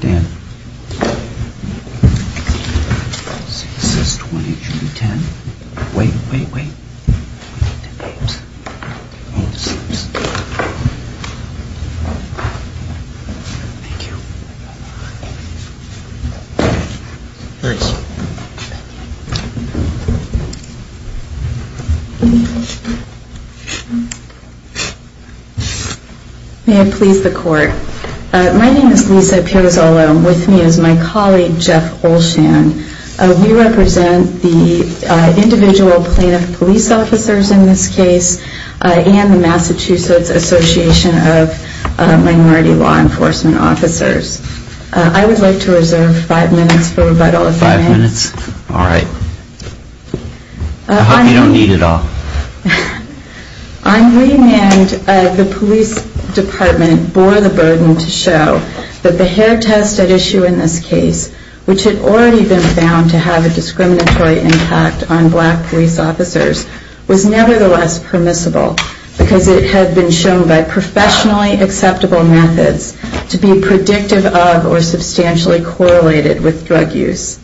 Dan, it says 20, it should be 10, wait, wait, wait, we need the 8s, 8s, 8s, thank you. May I please the court, my name is Lisa Pirozola and with me is my colleague Jeff Olshan, we represent the individual plaintiff police officers in this case and the Massachusetts Association of Minority Law Enforcement Officers. I would like to reserve five minutes for rebuttal if that's all right, I hope you don't need it all. On remand, the police department bore the burden to show that the hair test at issue in this case, which had already been found to have a discriminatory impact on black police officers, was nevertheless permissible because it had been shown by professionally acceptable methods to be predictive of or substantially correlated with drug use.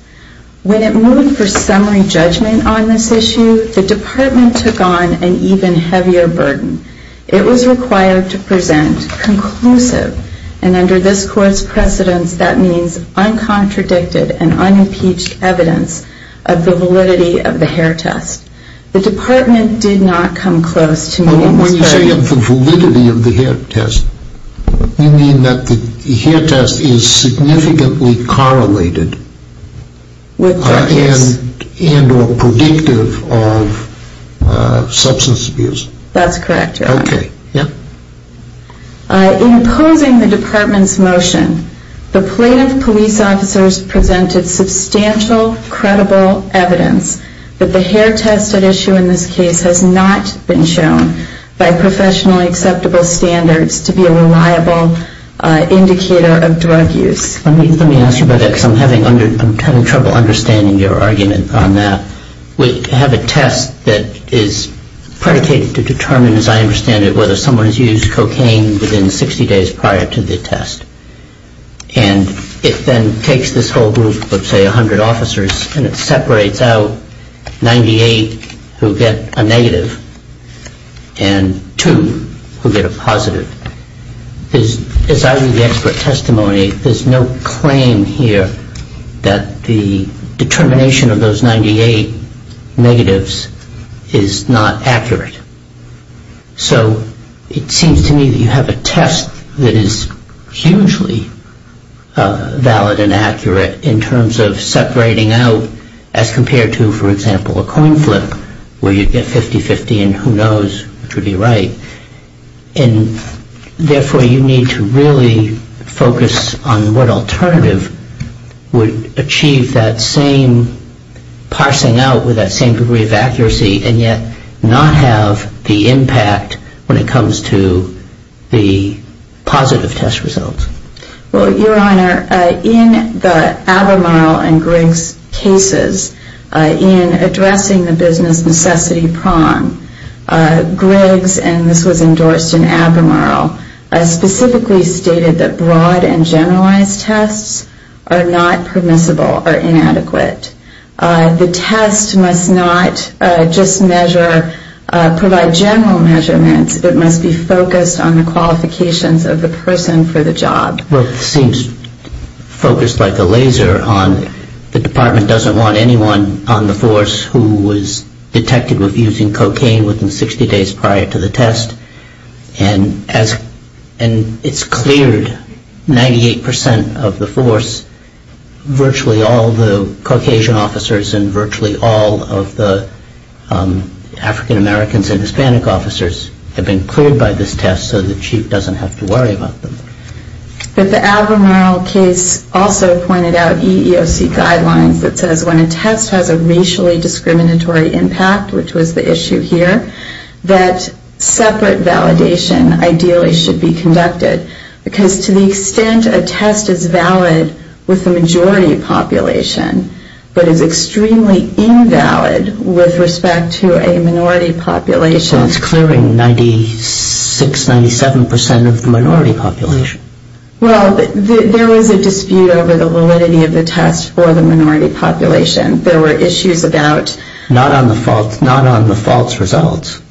When it moved for summary judgment on this issue, the department took on an even heavier burden. It was required to present conclusive, and under this court's precedence, that means The department did not come close to me. When you say the validity of the hair test, you mean that the hair test is significantly correlated with drug use and or predictive of substance abuse? That's correct, Your Honor. Okay. Yeah? In opposing the department's motion, the plaintiff police officers presented substantial, credible evidence that the hair test at issue in this case has not been shown by professionally acceptable standards to be a reliable indicator of drug use. Let me ask you about that because I'm having trouble understanding your argument on that. We have a test that is predicated to determine, as I understand it, whether someone has used cocaine within 60 days prior to the test. And it then takes this whole group of, say, 100 officers, and it separates out 98 who get a negative and two who get a positive. As I read the expert testimony, there's no claim here that the determination of those 98 negatives is not accurate. So it seems to me that you have a test that is hugely valid and accurate in terms of separating out as compared to, for example, a coin flip where you get 50-50 and who knows which would be right. And therefore, you need to really focus on what alternative would achieve that same parsing out with that same degree of accuracy and yet not have the impact when it comes to the positive test results. Well, Your Honor, in the Abermurl and Griggs cases, in addressing the business necessity prong, Griggs, and this was endorsed in Abermurl, specifically stated that broad and generalized tests are not permissible or inadequate. The test must not just measure, provide general measurements. It must be focused on the qualifications of the person for the job. Well, it seems focused like a laser on the department doesn't want anyone on the force who was detected with using cocaine within 60 days prior to the test. And it's cleared 98% of the force. Virtually all the Caucasian officers and virtually all of the African-Americans and Hispanic officers have been cleared by this test so the chief doesn't have to worry about them. But the Abermurl case also pointed out EEOC guidelines that says when a test has a racially disparate validation, ideally should be conducted because to the extent a test is valid with the majority population but is extremely invalid with respect to a minority population. It's clearing 96, 97% of the minority population. Well, there was a dispute over the validity of the test for the minority population. There were issues about... Not on the false results.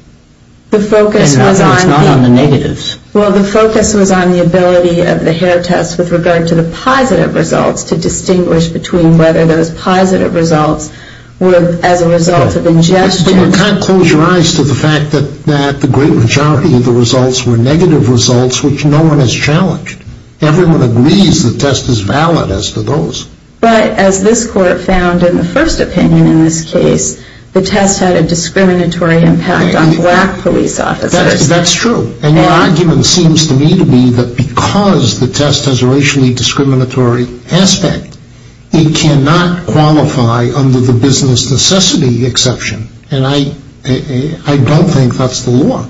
And it's not on the negatives. Well, the focus was on the ability of the hair test with regard to the positive results to distinguish between whether those positive results were as a result of ingestion. But you can't close your eyes to the fact that the great majority of the results were negative results which no one has challenged. Everyone agrees the test is valid as to those. But as this court found in the first opinion in this case, the test had a discriminatory impact on black police officers. That's true. And your argument seems to me to be that because the test has a racially discriminatory aspect, it cannot qualify under the business necessity exception. And I don't think that's the law.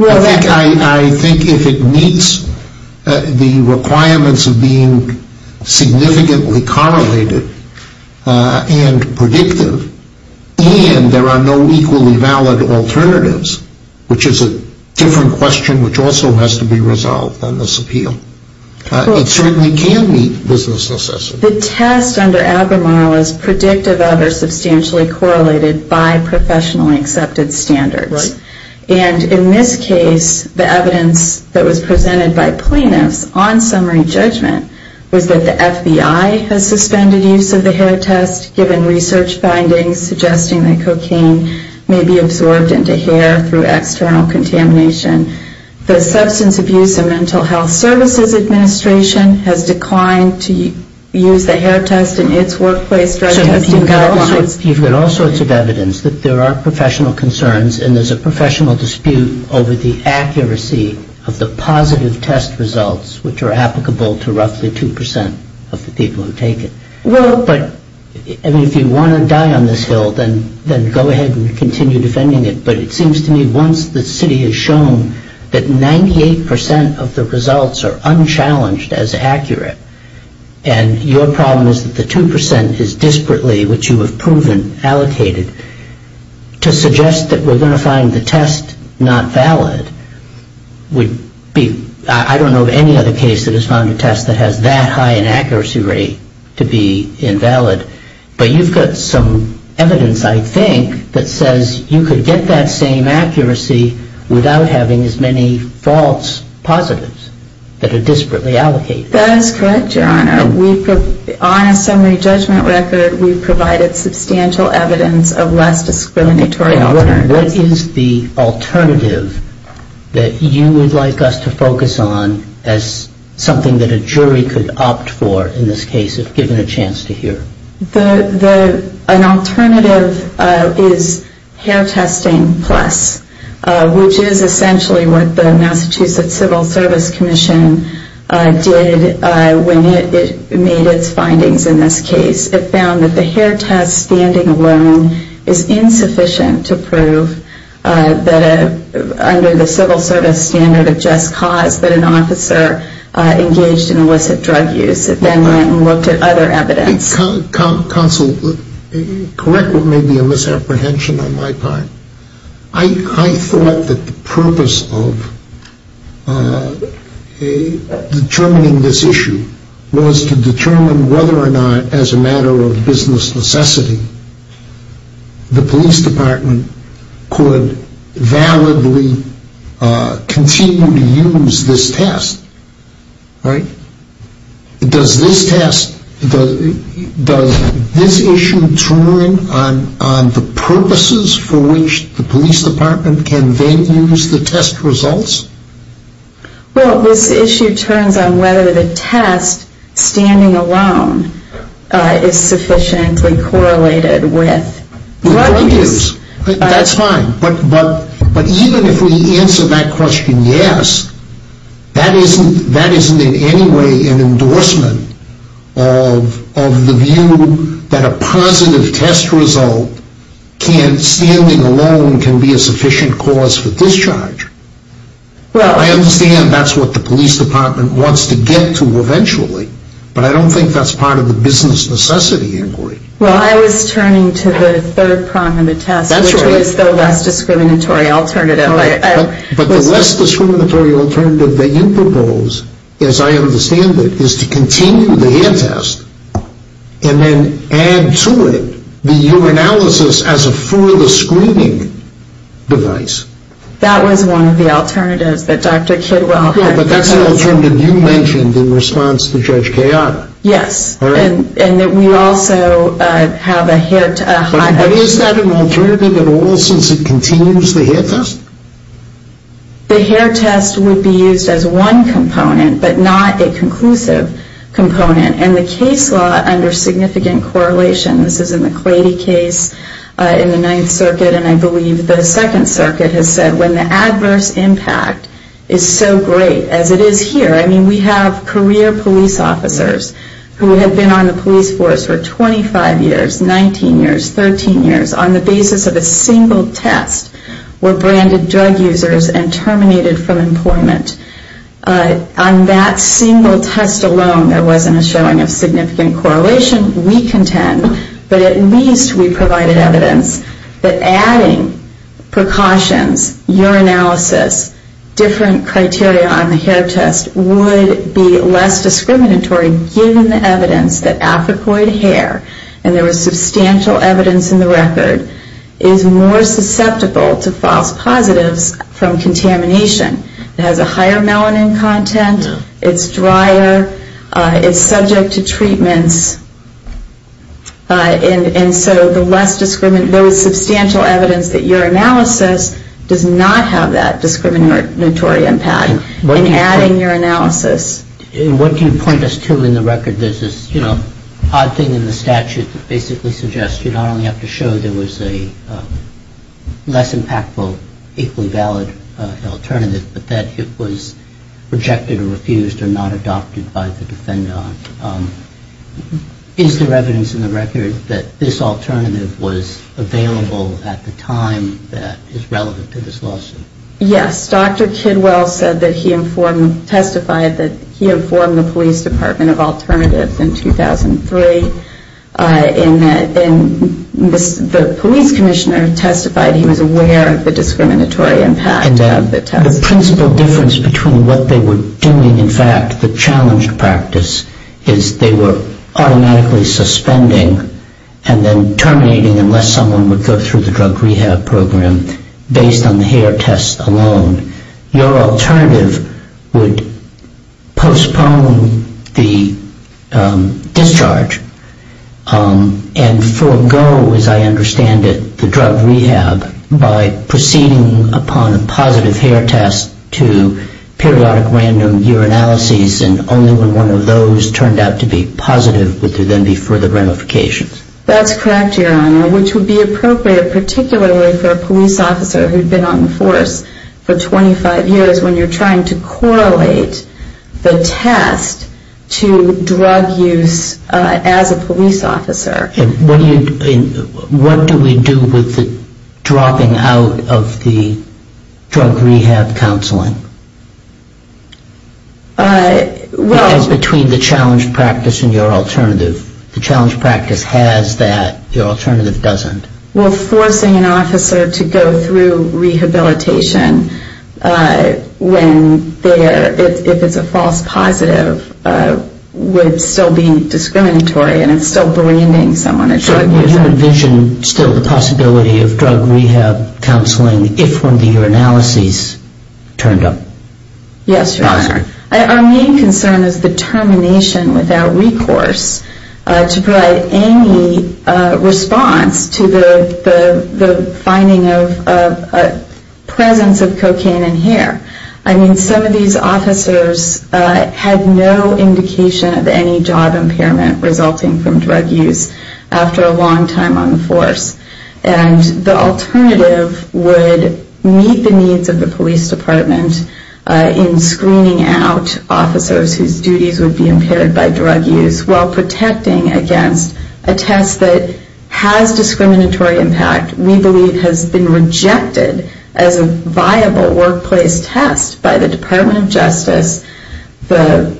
I think if it meets the requirements of being significantly correlated and predictive, and there are no equally valid alternatives, which is a different question which also has to be resolved on this appeal, it certainly can meet business necessity. The test under Albemarle is predictive of or substantially correlated by professionally accepted standards. Right. And in this case, the evidence that was presented by plaintiffs on summary judgment was that the FBI has suspended use of the hair test given research findings suggesting that cocaine may be absorbed into hair through external contamination. The Substance Abuse and Mental Health Services Administration has declined to use the hair test in its workplace drug testing guidelines. You've got all sorts of evidence that there are professional concerns and there's a professional dispute over the accuracy of the positive test results which are applicable to roughly 2% of the people who take it. Well, but if you want to die on this hill, then go ahead and continue defending it. But it seems to me once the city has shown that 98% of the results are unchallenged as accurate and your problem is that the 2% is disparately, which you have proven, allocated, to suggest that we're going to find the test not valid would be, I don't know of any other case that has found a test that has that high an accuracy rate to be invalid. But you've got some evidence, I think, that says you could get that same accuracy without having as many false positives that are disparately allocated. That is correct, Your Honor. On a summary judgment record, we've provided substantial evidence of less discriminatory alternatives. What is the alternative that you would like us to focus on as something that a jury could opt for in this case if given a chance to hear? An alternative is hair testing plus, which is essentially what the Massachusetts Civil Service Commission did when it made its findings in this case. It found that the hair test standing alone is insufficient to prove that under the civil service standard of just cause that an officer engaged in illicit drug use. It then went and looked at other evidence. Counsel, correct what may be a misapprehension on my part. I thought that the purpose of determining this issue was to determine whether or not, as a matter of business necessity, the police department could validly continue to use this test. Right? Does this test, does this issue turn on the purposes for which the police department can then use the test results? Well, this issue turns on whether the test standing alone is sufficiently correlated with drug use. That's fine. But even if we answer that question yes, that isn't in any way an endorsement of the view that a positive test result, standing alone can be a sufficient cause for discharge. I understand that's what the police department wants to get to eventually, but I don't think that's part of the business necessity inquiry. Well, I was turning to the third prong of the test, which is the less discriminatory alternative. But the less discriminatory alternative that you propose, as I understand it, is to continue the hand test and then add to it the urinalysis as a further screening device. That was one of the alternatives that Dr. Kidwell had proposed. But that's an alternative you mentioned in response to Judge Kayak. Yes. And that we also have a hair test. But is that an alternative at all since it continues the hair test? The hair test would be used as one component, but not a conclusive component. And the case law under significant correlation, this is in the Clady case in the Ninth Circuit, and I believe the Second Circuit has said when the adverse impact is so great, as it is here, I mean, we have career police officers who have been on the police force for 25 years, 19 years, 13 years, on the basis of a single test were branded drug users and terminated from employment. On that single test alone, there wasn't a showing of significant correlation. We contend, but at least we provided evidence that adding precautions, urinalysis, different criteria on the hair test would be less discriminatory, given the evidence that apicoid hair, and there was substantial evidence in the record, is more susceptible to false positives from contamination. It has a higher melanin content. It's drier. It's subject to treatments. And so there was substantial evidence that urinalysis does not have that discriminatory impact in adding urinalysis. What can you point us to in the record? There's this odd thing in the statute that basically suggests you not only have to show there was a less impactful, equally valid alternative, but that it was rejected or refused or not adopted by the defendant. Is there evidence in the record that this alternative was available at the time that is relevant to this lawsuit? Yes. Dr. Kidwell said that he informed, testified that he informed the police department of alternatives in 2003, and the police commissioner testified he was aware of the discriminatory impact of the test. The principal difference between what they were doing, in fact, the challenged practice, is they were automatically suspending and then terminating unless someone would go through the drug rehab program, based on the hair test alone. Your alternative would postpone the discharge and forego, as I understand it, the drug rehab by proceeding upon a positive hair test to periodic random urinalyses, and only when one of those turned out to be positive would there then be further ramifications. That's correct, Your Honor, which would be appropriate, particularly for a police officer who had been on the force for 25 years, when you're trying to correlate the test to drug use as a police officer. What do we do with the dropping out of the drug rehab counseling? Well... Between the challenged practice and your alternative. The challenged practice has that, your alternative doesn't. Well, forcing an officer to go through rehabilitation when there, if it's a false positive, would still be discriminatory and still branding someone a drug user. So you envision still the possibility of drug rehab counseling if one of the urinalyses turned up positive? Yes, Your Honor. Our main concern is the termination without recourse to provide any response to the finding of presence of cocaine in hair. I mean, some of these officers had no indication of any job impairment resulting from drug use after a long time on the force. And the alternative would meet the needs of the police department in screening out officers whose duties would be impaired by drug use, while protecting against a test that has discriminatory impact. We believe has been rejected as a viable workplace test by the Department of Justice. The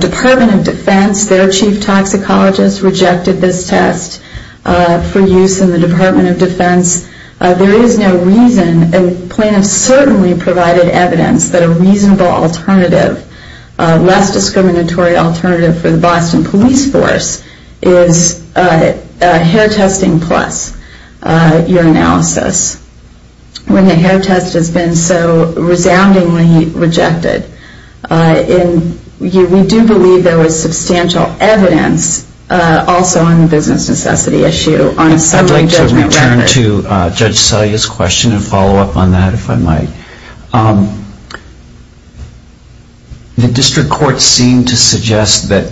Department of Defense, their chief toxicologist, rejected this test for use in the Department of Defense. There is no reason, and plaintiffs certainly provided evidence that a reasonable alternative, a less discriminatory alternative for the Boston Police Force is hair testing plus urinalysis, when the hair test has been so resoundingly rejected. And we do believe there was substantial evidence also on the business necessity issue on a similar judgment record. I'll turn to Judge Salia's question and follow up on that, if I might. The district court seemed to suggest that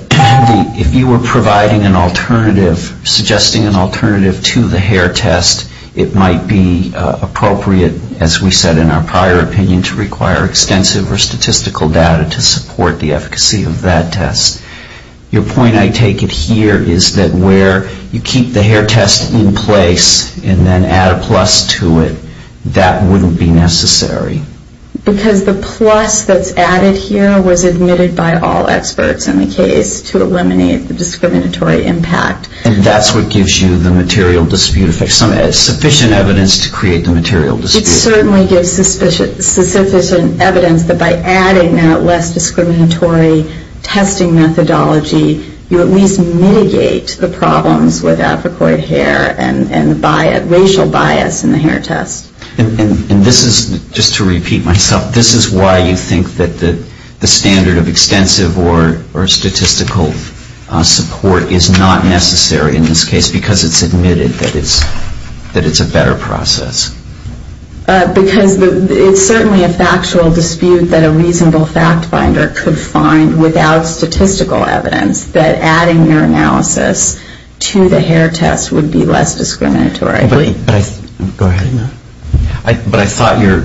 if you were providing an alternative, suggesting an alternative to the hair test, it might be appropriate, as we said in our prior opinion, to require extensive or statistical data to support the efficacy of that test. Your point, I take it here, is that where you keep the hair test in place and then add a plus to it, that wouldn't be necessary. Because the plus that's added here was admitted by all experts in the case to eliminate the discriminatory impact. And that's what gives you the material dispute, sufficient evidence to create the material dispute. It certainly gives sufficient evidence that by adding that less discriminatory testing methodology, you at least mitigate the problems with Africoid hair and racial bias in the hair test. And this is, just to repeat myself, this is why you think that the standard of extensive or statistical support is not necessary in this case, because it's admitted that it's a better process? Because it's certainly a factual dispute that a reasonable fact-finder could find without statistical evidence that adding your analysis to the hair test would be less discriminatory. But I thought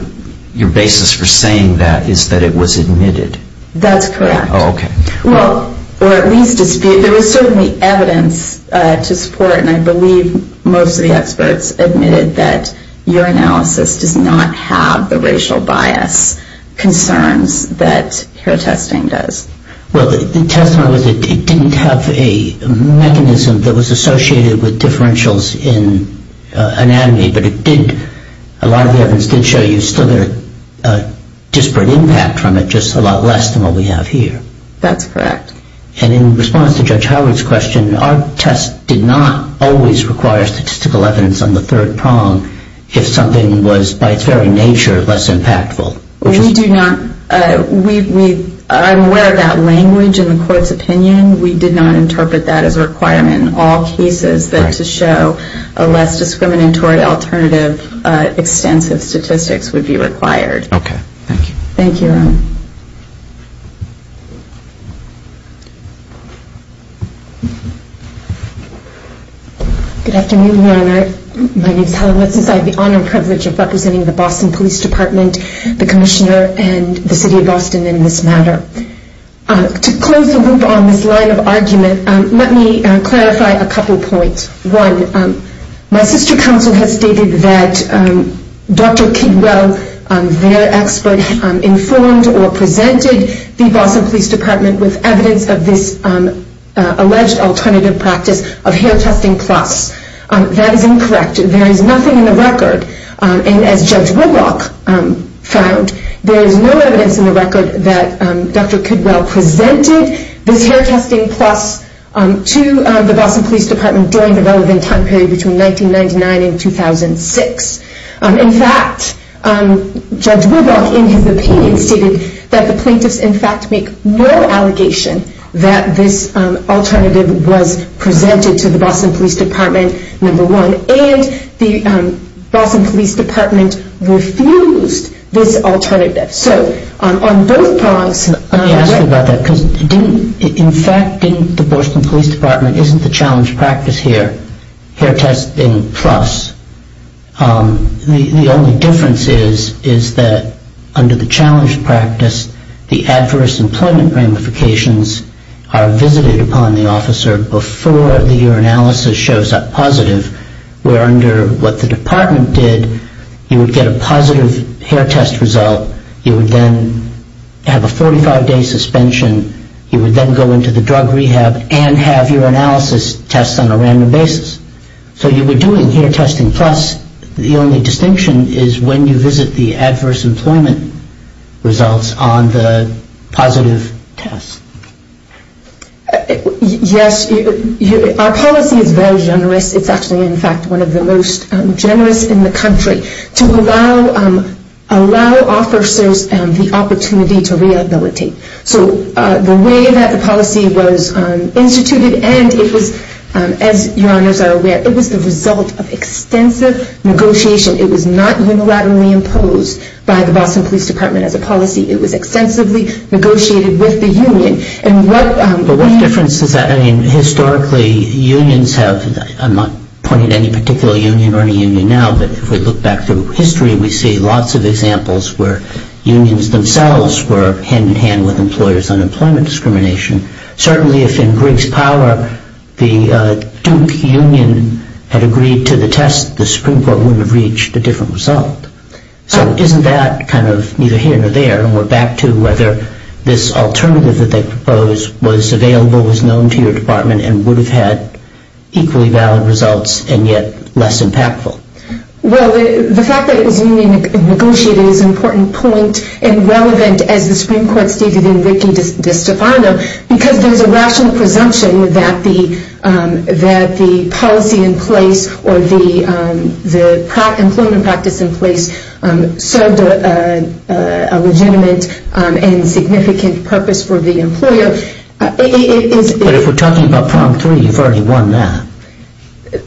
your basis for saying that is that it was admitted. That's correct. Oh, okay. Well, or at least dispute. There was certainly evidence to support, and I believe most of the experts admitted, that your analysis does not have the racial bias concerns that hair testing does. Well, the test didn't have a mechanism that was associated with differentials in anatomy, but a lot of the evidence did show you still a disparate impact from it, just a lot less than what we have here. That's correct. And in response to Judge Howard's question, our test did not always require statistical evidence on the third prong if something was, by its very nature, less impactful. We do not. I'm aware of that language in the court's opinion. And we did not interpret that as a requirement in all cases, that to show a less discriminatory alternative, extensive statistics would be required. Okay. Thank you. Thank you. Good afternoon, Your Honor. My name is Helen Wessens. I have the honor and privilege of representing the Boston Police Department, the Commissioner, and the City of Boston in this matter. To close the loop on this line of argument, let me clarify a couple points. One, my sister counsel has stated that Dr. Kidwell, their expert, informed or presented the Boston Police Department with evidence of this alleged alternative practice of hair testing plus. That is incorrect. There is nothing in the record. And as Judge Woodrock found, there is no evidence in the record that Dr. Kidwell presented this hair testing plus to the Boston Police Department during the relevant time period between 1999 and 2006. In fact, Judge Woodrock, in his opinion, stated that the plaintiffs, in fact, make no allegation that this alternative was presented to the Boston Police Department, number one. And the Boston Police Department refused this alternative. So on both fronts, Let me ask you about that because, in fact, didn't the Boston Police Department, isn't the challenge practice here hair testing plus? The only difference is that under the challenge practice, the adverse employment ramifications are visited upon the officer before the urinalysis shows up positive, where under what the department did, you would get a positive hair test result. You would then have a 45-day suspension. You would then go into the drug rehab and have urinalysis tests on a random basis. So you were doing hair testing plus. The only distinction is when you visit the adverse employment results on the positive test. Yes, our policy is very generous. It's actually, in fact, one of the most generous in the country to allow officers the opportunity to rehabilitate. So the way that the policy was instituted and it was, as your honors are aware, it was the result of extensive negotiation. It was not unilaterally imposed by the Boston Police Department as a policy. It was extensively negotiated with the union. But what difference does that make? Historically, unions have, I'm not pointing to any particular union or any union now, but if we look back through history, we see lots of examples where unions themselves were hand-in-hand with employers on employment discrimination. Certainly if in Briggs Power the Duke Union had agreed to the test, the Supreme Court would have reached a different result. So isn't that kind of neither here nor there? And we're back to whether this alternative that they proposed was available, was known to your department, and would have had equally valid results and yet less impactful. Well, the fact that it was union negotiated is an important point and relevant as the Supreme Court stated in Ricky DeStefano, because there's a rational presumption that the policy in place or the employment practice in place served a legitimate and significant purpose for the employer. But if we're talking about prong three, you've already won that.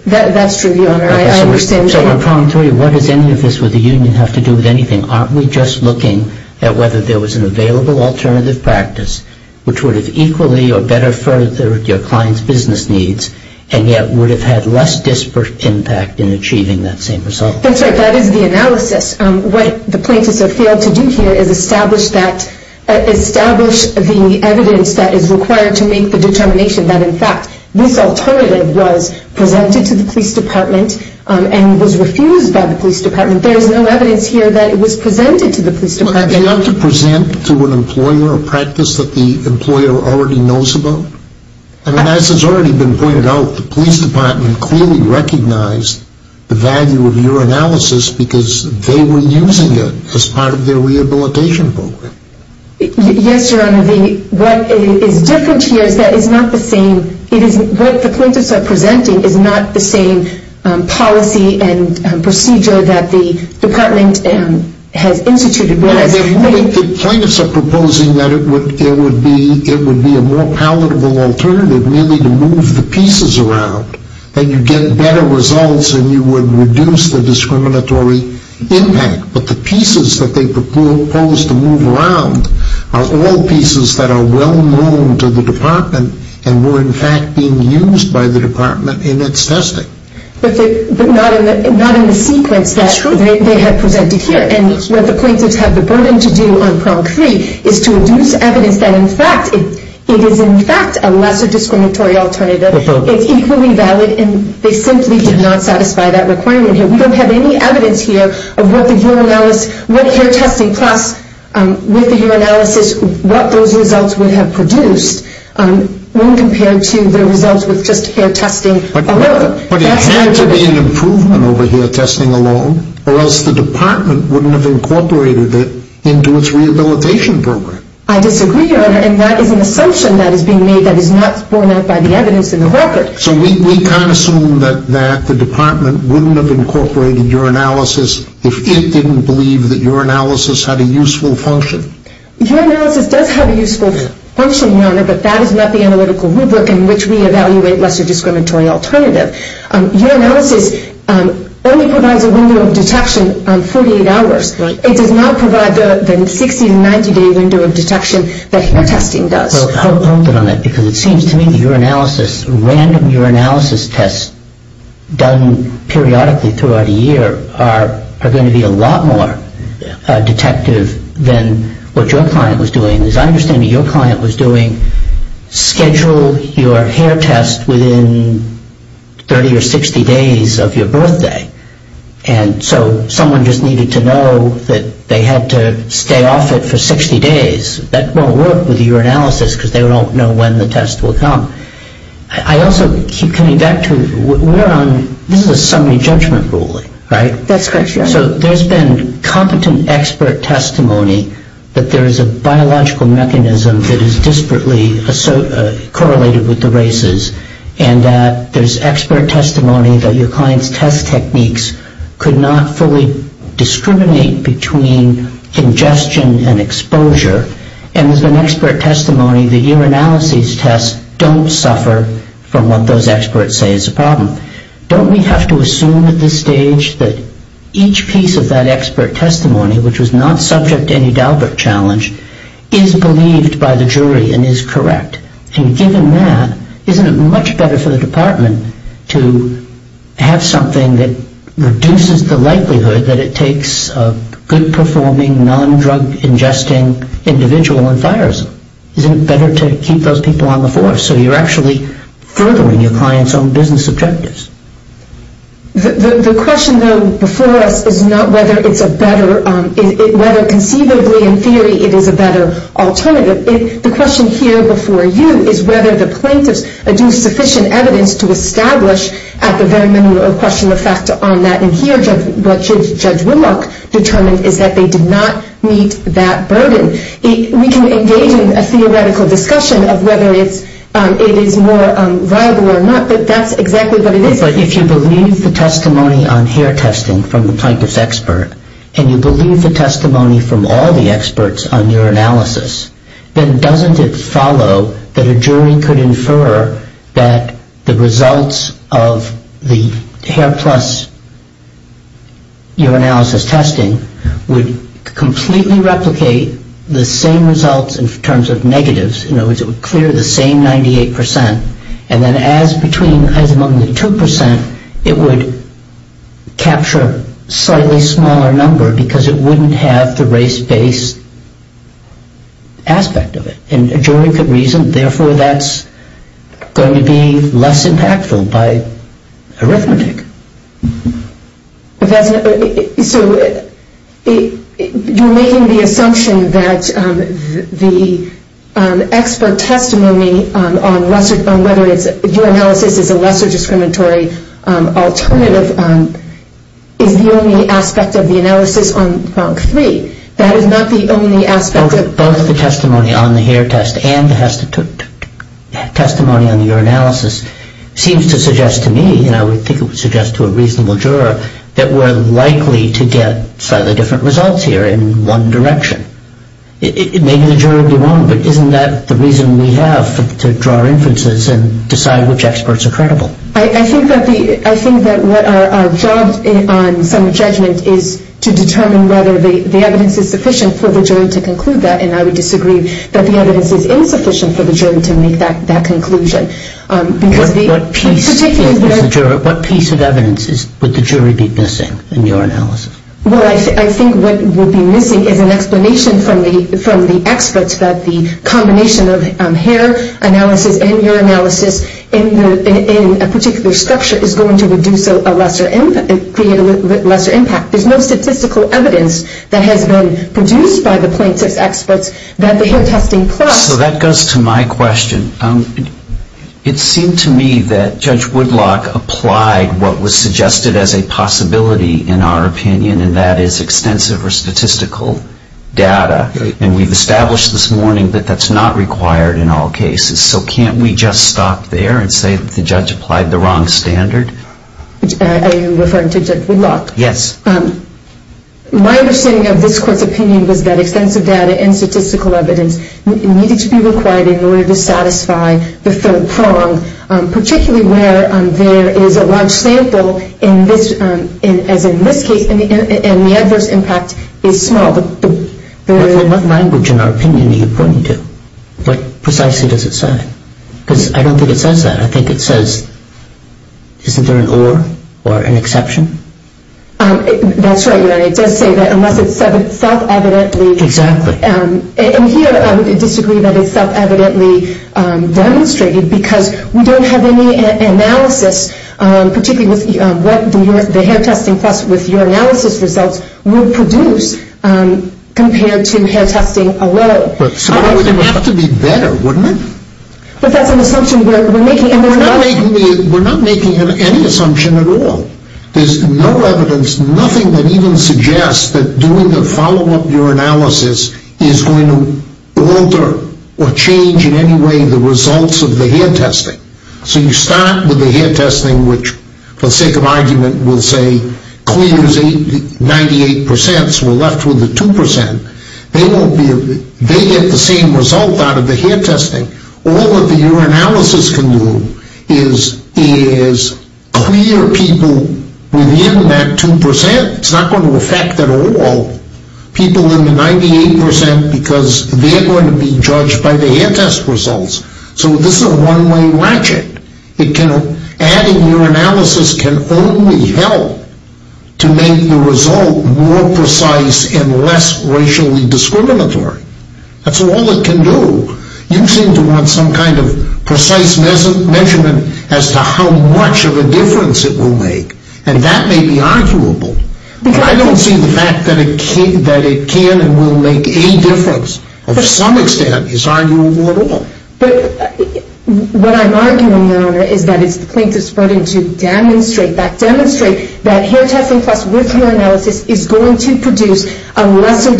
That's true, your honor. I understand. So the prong three, what does any of this with the union have to do with anything? Aren't we just looking at whether there was an available alternative practice which would have equally or better furthered your client's business needs and yet would have had less disparate impact in achieving that same result? That's right. That is the analysis. What the plaintiffs have failed to do here is establish that, establish the evidence that is required to make the determination that, in fact, this alternative was presented to the police department and was refused by the police department. There is no evidence here that it was presented to the police department. Well, they ought to present to an employer a practice that the employer already knows about. I mean, as has already been pointed out, the police department clearly recognized the value of your analysis because they were using it as part of their rehabilitation program. Yes, your honor. What is different here is that it's not the same. What the plaintiffs are presenting is not the same policy and procedure that the department has instituted. The plaintiffs are proposing that it would be a more palatable alternative merely to move the pieces around and you get better results and you would reduce the discriminatory impact. But the pieces that they propose to move around are all pieces that are well known to the department and were, in fact, being used by the department in its testing. But not in the sequence that they had presented here. That's true. And what the plaintiffs have the burden to do on prong three is to reduce evidence that, in fact, it is, in fact, a lesser discriminatory alternative. It's equally valid and they simply did not satisfy that requirement here. We don't have any evidence here of what the UR analysis, what hair testing plus with the hair analysis, what those results would have produced when compared to the results with just hair testing alone. But it had to be an improvement over hair testing alone or else the department wouldn't have incorporated it into its rehabilitation program. I disagree, your honor, and that is an assumption that is being made that is not borne out by the evidence in the record. So we can't assume that the department wouldn't have incorporated UR analysis if it didn't believe that UR analysis had a useful function. UR analysis does have a useful function, your honor, but that is not the analytical rubric in which we evaluate lesser discriminatory alternative. UR analysis only provides a window of detection on 48 hours. Right. It does not provide the 60- to 90-day window of detection that hair testing does. Well, I'll open on that because it seems to me that UR analysis, random UR analysis tests done periodically throughout a year are going to be a lot more detective than what your client was doing. As I understand it, your client was doing schedule your hair test within 30 or 60 days of your birthday. And so someone just needed to know that they had to stay off it for 60 days. That won't work with UR analysis because they don't know when the test will come. I also keep coming back to this is a summary judgment ruling, right? That's correct, your honor. So there's been competent expert testimony that there is a biological mechanism that is disparately correlated with the races, and that there's expert testimony that your client's test techniques could not fully discriminate between congestion and exposure. And there's been expert testimony that UR analysis tests don't suffer from what those experts say is a problem. Don't we have to assume at this stage that each piece of that expert testimony, which was not subject to any Dalbert challenge, is believed by the jury and is correct? And given that, isn't it much better for the department to have something that reduces the likelihood that it takes a good-performing, non-drug-ingesting individual and fires them? Isn't it better to keep those people on the force so you're actually furthering your client's own business objectives? The question, though, before us is not whether it's a better, whether conceivably in theory it is a better alternative. The question here before you is whether the plaintiffs do sufficient evidence to establish at the very minimum a question of fact on that. And here what Judge Whitlock determined is that they did not meet that burden. We can engage in a theoretical discussion of whether it is more viable or not, but that's exactly what it is. But if you believe the testimony on hair testing from the plaintiff's expert and you believe the testimony from all the experts on UR analysis, then doesn't it follow that a jury could infer that the results of the hair plus UR analysis testing would completely replicate the same results in terms of negatives? In other words, it would clear the same 98%, and then as among the 2%, it would capture a slightly smaller number because it wouldn't have the race-based aspect of it. And a jury could reason, therefore, that's going to be less impactful by arithmetic. So you're making the assumption that the expert testimony on whether UR analysis is a lesser discriminatory alternative is the only aspect of the analysis on Pronk 3. That is not the only aspect. Both the testimony on the hair test and the testimony on the UR analysis seems to suggest to me, and I would think it would suggest to a reasonable juror, that we're likely to get slightly different results here in one direction. Maybe the jury would be wrong, but isn't that the reason we have to draw inferences and decide which experts are credible? I think that our job on some judgment is to determine whether the evidence is sufficient for the jury to conclude that, and I would disagree that the evidence is insufficient for the jury to make that conclusion. What piece of evidence would the jury be missing in your analysis? Well, I think what would be missing is an explanation from the experts that the combination of hair analysis and UR analysis in a particular structure is going to create a lesser impact. There's no statistical evidence that has been produced by the plaintiff's experts that the hair testing plus... So that goes to my question. It seemed to me that Judge Woodlock applied what was suggested as a possibility, in our opinion, and that is extensive or statistical data, and we've established this morning that that's not required in all cases. So can't we just stop there and say that the judge applied the wrong standard? Are you referring to Judge Woodlock? Yes. My understanding of this Court's opinion was that extensive data and statistical evidence needed to be required in order to satisfy the third prong, particularly where there is a large sample, as in this case, and the adverse impact is small. What language, in our opinion, are you pointing to? What precisely does it say? Because I don't think it says that. I think it says, isn't there an or or an exception? That's right, Your Honor. It does say that unless it's self-evidently... Exactly. And here I would disagree that it's self-evidently demonstrated because we don't have any analysis, particularly with what the hair testing plus with your analysis results would produce compared to hair testing alone. But it would have to be better, wouldn't it? But that's an assumption we're making. We're not making any assumption at all. There's no evidence, nothing that even suggests that doing the follow-up urinalysis is going to alter or change in any way the results of the hair testing. So you start with the hair testing, which, for the sake of argument, will say 98 percent, so we're left with the 2 percent. They get the same result out of the hair testing. All that the urinalysis can do is clear people within that 2 percent. It's not going to affect at all people in the 98 percent because they're going to be judged by the hair test results. So this is a one-way ratchet. Adding urinalysis can only help to make the result more precise and less racially discriminatory. That's all it can do. You seem to want some kind of precise measurement as to how much of a difference it will make, and that may be arguable. But I don't see the fact that it can and will make any difference of some extent is arguable at all. But what I'm arguing, Your Honor, is that it's the plaintiff's burden to demonstrate that hair testing plus with urinalysis is going to produce a lesser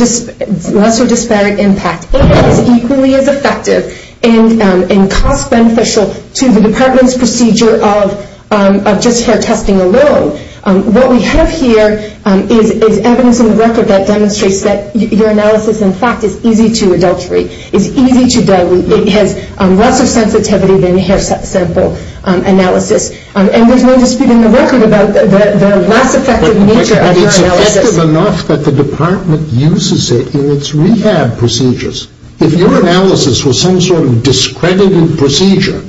disparate impact. It is equally as effective and cost-beneficial to the department's procedure of just hair testing alone. What we have here is evidence in the record that demonstrates that urinalysis, in fact, is easy to adulterate, is easy to dilute. It has less of sensitivity than hair sample analysis. And there's no dispute in the record about the less effective nature of urinalysis. But it's effective enough that the department uses it in its rehab procedures. If your analysis was some sort of discredited procedure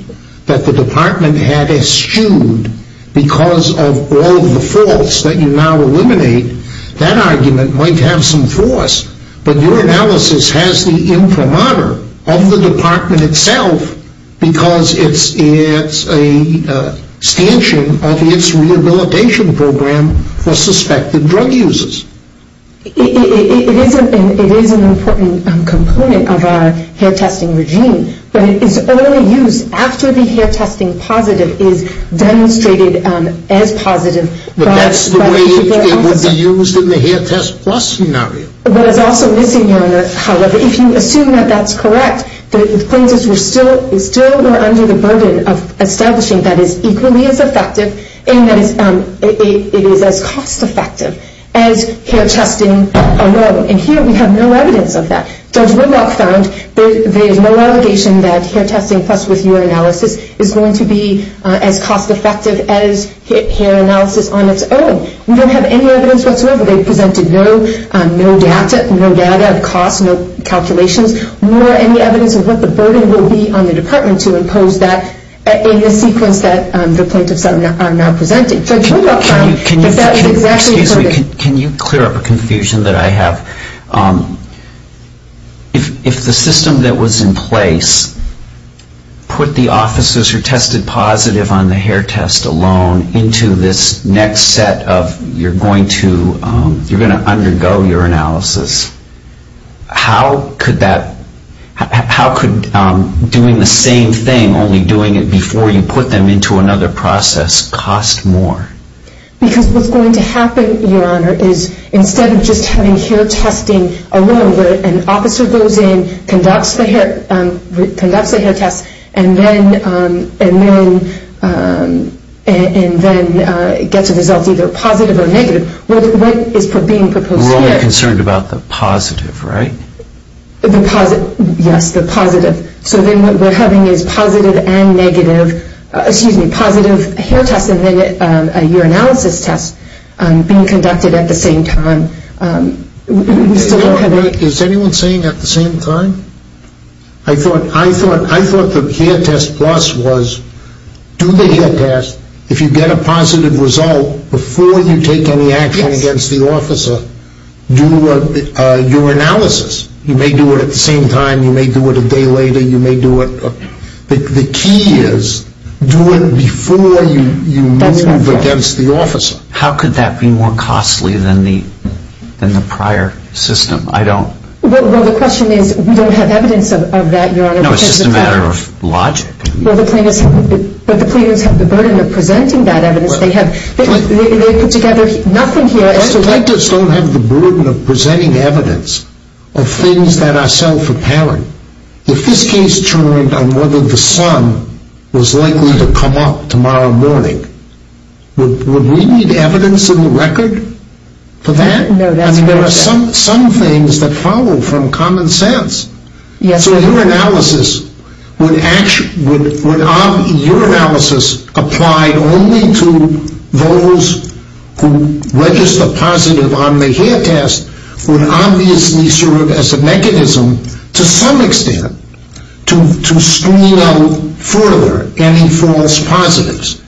that the department had eschewed because of all of the faults that you now eliminate, that argument might have some force. But urinalysis has the imprimatur of the department itself because it's a stanchion of its rehabilitation program for suspected drug users. It is an important component of our hair testing regime. But it is only used after the hair testing positive is demonstrated as positive. But that's the way it would be used in the hair test plus scenario. What is also missing here, however, if you assume that that's correct, the plaintiffs were still under the burden of establishing that it's equally as effective and that it is as cost-effective as hair testing alone. And here we have no evidence of that. Judge Whitlock found there's no allegation that hair testing plus with urinalysis is going to be as cost-effective as hair analysis on its own. We don't have any evidence whatsoever. They presented no data of cost, no calculations, nor any evidence of what the burden will be on the department to impose that in the sequence that the plaintiffs are now presenting. Judge Whitlock found that that is exactly correct. Excuse me. Can you clear up a confusion that I have? If the system that was in place put the officers who tested positive on the hair test alone into this next set of you're going to undergo urinalysis, how could doing the same thing, only doing it before you put them into another process, cost more? Because what's going to happen, Your Honor, is instead of just having hair testing alone where an officer goes in, conducts the hair test, and then gets a result either positive or negative, what is being proposed here? We're only concerned about the positive, right? Yes, the positive. So then what we're having is positive and negative, excuse me, positive hair tests and then a urinalysis test being conducted at the same time. Is anyone saying at the same time? I thought the hair test plus was do the hair test, if you get a positive result, before you take any action against the officer, do urinalysis. You may do it at the same time, you may do it a day later, you may do it. The key is do it before you move against the officer. How could that be more costly than the prior system? Well, the question is we don't have evidence of that, Your Honor. No, it's just a matter of logic. But the plaintiffs have the burden of presenting that evidence. They put together nothing here. Plaintiffs don't have the burden of presenting evidence of things that are self-apparent. If this case turned on whether the sun was likely to come up tomorrow morning, would we need evidence in the record for that? No, that's not what I said. I mean, there are some things that follow from common sense. Yes. So urinalysis, would your analysis apply only to those who register positive on the hair test would obviously serve as a mechanism to some extent to screen out further any false positives.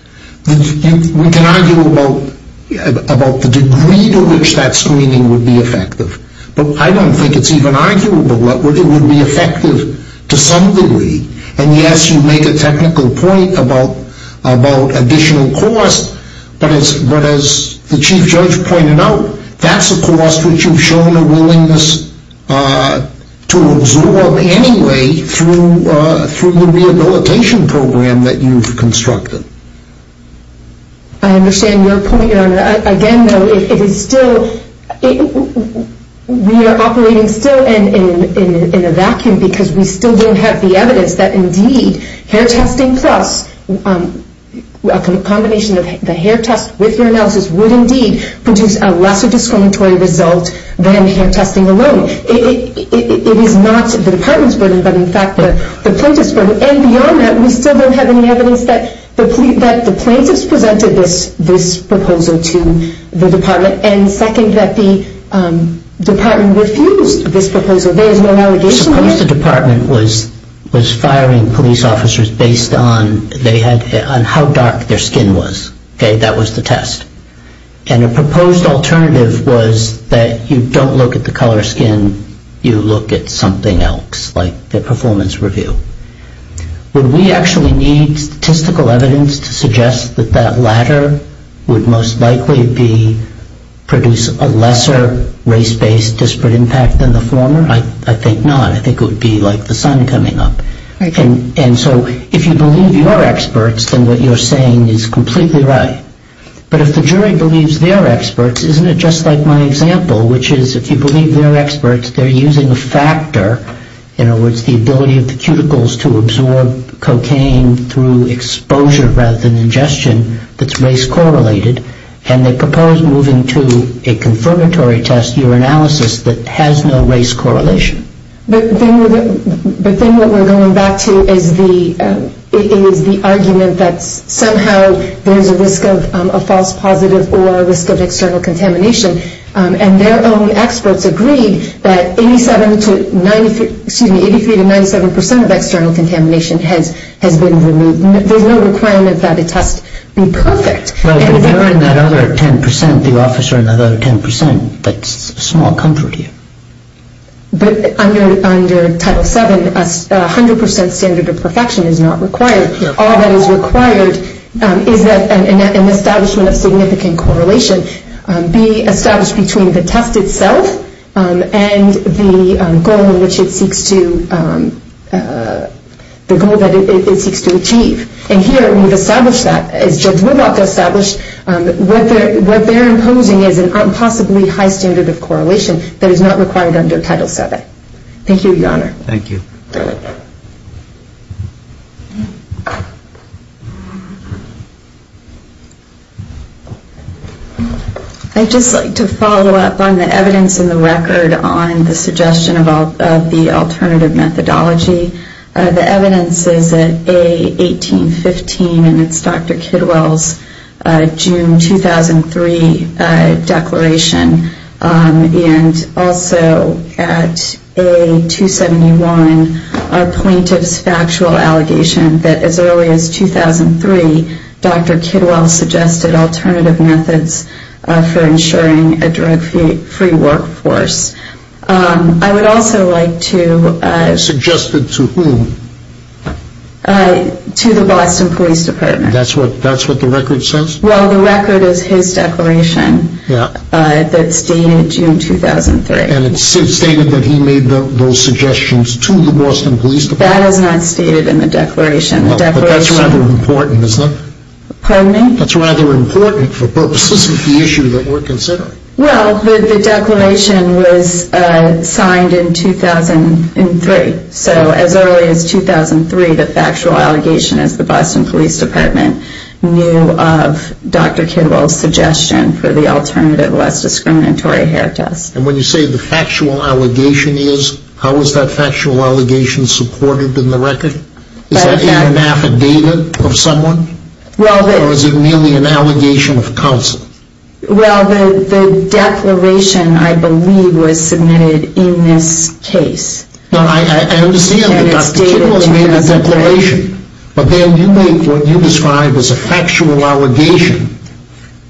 We can argue about the degree to which that screening would be effective, but I don't think it's even arguable that it would be effective to some degree. And yes, you make a technical point about additional costs, but as the Chief Judge pointed out, that's a cost which you've shown a willingness to absorb anyway through the rehabilitation program that you've constructed. I understand your point, Your Honor. Again, though, we are operating still in a vacuum because we still don't have the evidence that indeed hair testing plus a combination of the hair test with urinalysis would indeed produce a lesser discriminatory result than hair testing alone. It is not the Department's burden, but in fact the plaintiff's burden. And beyond that, we still don't have any evidence that the plaintiffs presented this proposal to the Department, and second, that the Department refused this proposal. There is no allegation there. Suppose the Department was firing police officers based on how dark their skin was. That was the test. And a proposed alternative was that you don't look at the color of skin, you look at something else, like their performance review. Would we actually need statistical evidence to suggest that that latter would most likely be produce a lesser race-based disparate impact than the former? I think not. I think it would be like the sun coming up. And so if you believe your experts, then what you're saying is completely right. But if the jury believes their experts, isn't it just like my example, which is if you believe their experts, they're using a factor, in other words, the ability of the cuticles to absorb cocaine through exposure rather than ingestion that's race-correlated, and they propose moving to a confirmatory test, urinalysis, that has no race correlation. But then what we're going back to is the argument that somehow there's a risk of a false positive or a risk of external contamination. And their own experts agreed that 83 to 97 percent of external contamination has been removed. There's no requirement that a test be perfect. No, but you're in that other 10 percent, the officer in that other 10 percent. That's a small comfort here. But under Title VII, a 100 percent standard of perfection is not required. All that is required is that an establishment of significant correlation be established between the test itself and the goal that it seeks to achieve. And here we've established that. As Judge Woodlock established, what they're imposing is an impossibly high standard of correlation that is not required under Title VII. Thank you, Your Honor. Thank you. I'd just like to follow up on the evidence in the record on the suggestion of the alternative methodology. The evidence is at A1815, and it's Dr. Kidwell's June 2003 declaration. And also at A271, a plaintiff's factual allegation that as early as 2003, Dr. Kidwell suggested alternative methods for ensuring a drug-free workforce. I would also like to – Suggested to whom? To the Boston Police Department. That's what the record says? Well, the record is his declaration that's dated June 2003. And it's stated that he made those suggestions to the Boston Police Department? That is not stated in the declaration. Well, but that's rather important, isn't it? Pardon me? That's rather important for purposes of the issue that we're considering. Well, the declaration was signed in 2003. So as early as 2003, the factual allegation is the Boston Police Department knew of Dr. Kidwell's suggestion for the alternative, less discriminatory hair test. And when you say the factual allegation is, how is that factual allegation supported in the record? Is that an affidavit of someone? Or is it merely an allegation of counsel? Well, the declaration, I believe, was submitted in this case. No, I understand that Dr. Kidwell made a declaration. But then you make what you describe as a factual allegation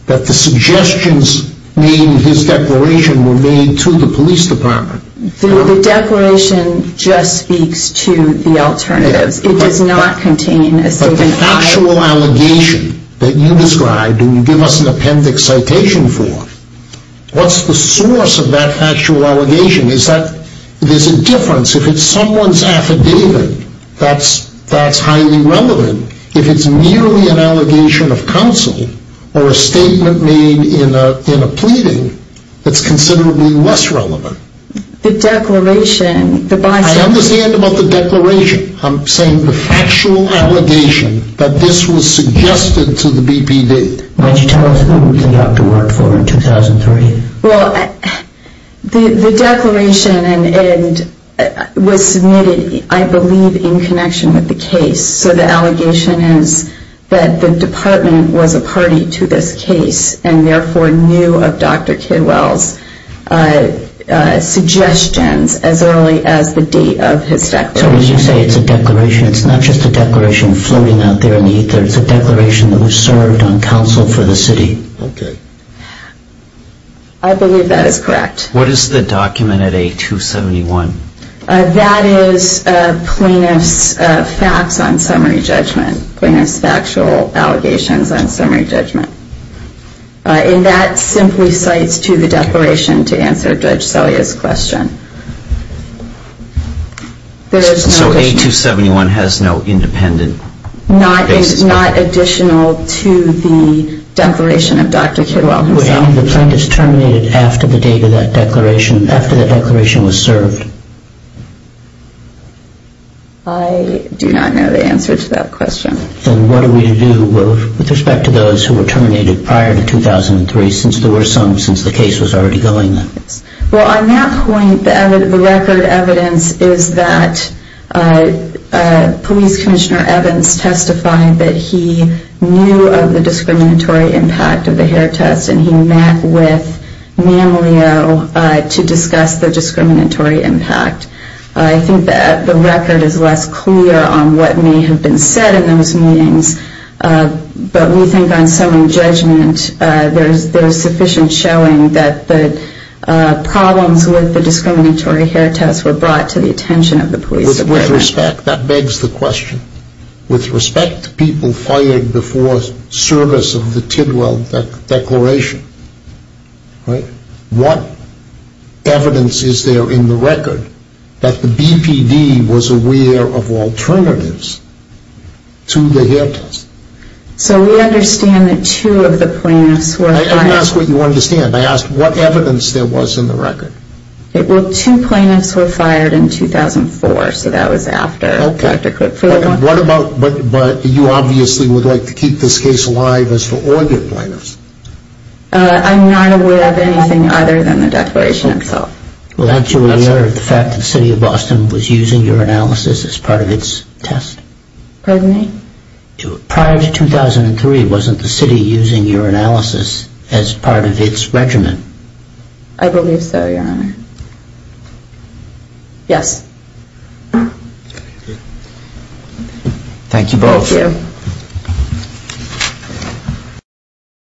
that the suggestions made in his declaration were made to the police department. The declaration just speaks to the alternatives. It does not contain a statement – The factual allegation that you described and you give us an appendix citation for, what's the source of that factual allegation? Is that – there's a difference. If it's someone's affidavit, that's highly relevant. If it's merely an allegation of counsel or a statement made in a pleading, that's considerably less relevant. The declaration, the – I understand about the declaration. I'm saying the factual allegation that this was suggested to the BPD. Why don't you tell us what the doctor worked for in 2003? Well, the declaration was submitted, I believe, in connection with the case. So the allegation is that the department was a party to this case and therefore knew of Dr. Kidwell's suggestions as early as the date of his declaration. So when you say it's a declaration, it's not just a declaration floating out there in the ether. It's a declaration that was served on counsel for the city. Okay. I believe that is correct. What is the document at A271? That is plaintiff's facts on summary judgment, plaintiff's factual allegations on summary judgment. And that simply cites to the declaration to answer Judge Selya's question. So A271 has no independent basis? Not additional to the declaration of Dr. Kidwell himself. Would any of the plaintiffs terminate it after the date of that declaration, after the declaration was served? I do not know the answer to that question. Then what are we to do with respect to those who were terminated prior to 2003, since the case was already going? Well, on that point, the record evidence is that Police Commissioner Evans testified that he knew of the discriminatory impact of the hair test and he met with Mammaleo to discuss the discriminatory impact. I think that the record is less clear on what may have been said in those meetings, but we think on summary judgment, there is sufficient showing that the problems with the discriminatory hair test were brought to the attention of the police department. With respect, that begs the question, with respect to people fired before service of the Tidwell Declaration, what evidence is there in the record that the BPD was aware of alternatives to the hair test? So we understand that two of the plaintiffs were fired. Let me ask what you understand. I asked what evidence there was in the record. Well, two plaintiffs were fired in 2004, so that was after Dr. Kidwell. But you obviously would like to keep this case alive as for all the plaintiffs. I'm not aware of anything other than the declaration itself. Well, aren't you aware of the fact that the city of Boston was using your analysis as part of its test? Pardon me? Prior to 2003, wasn't the city using your analysis as part of its regimen? I believe so, Your Honor. Yes. Thank you both. Thank you.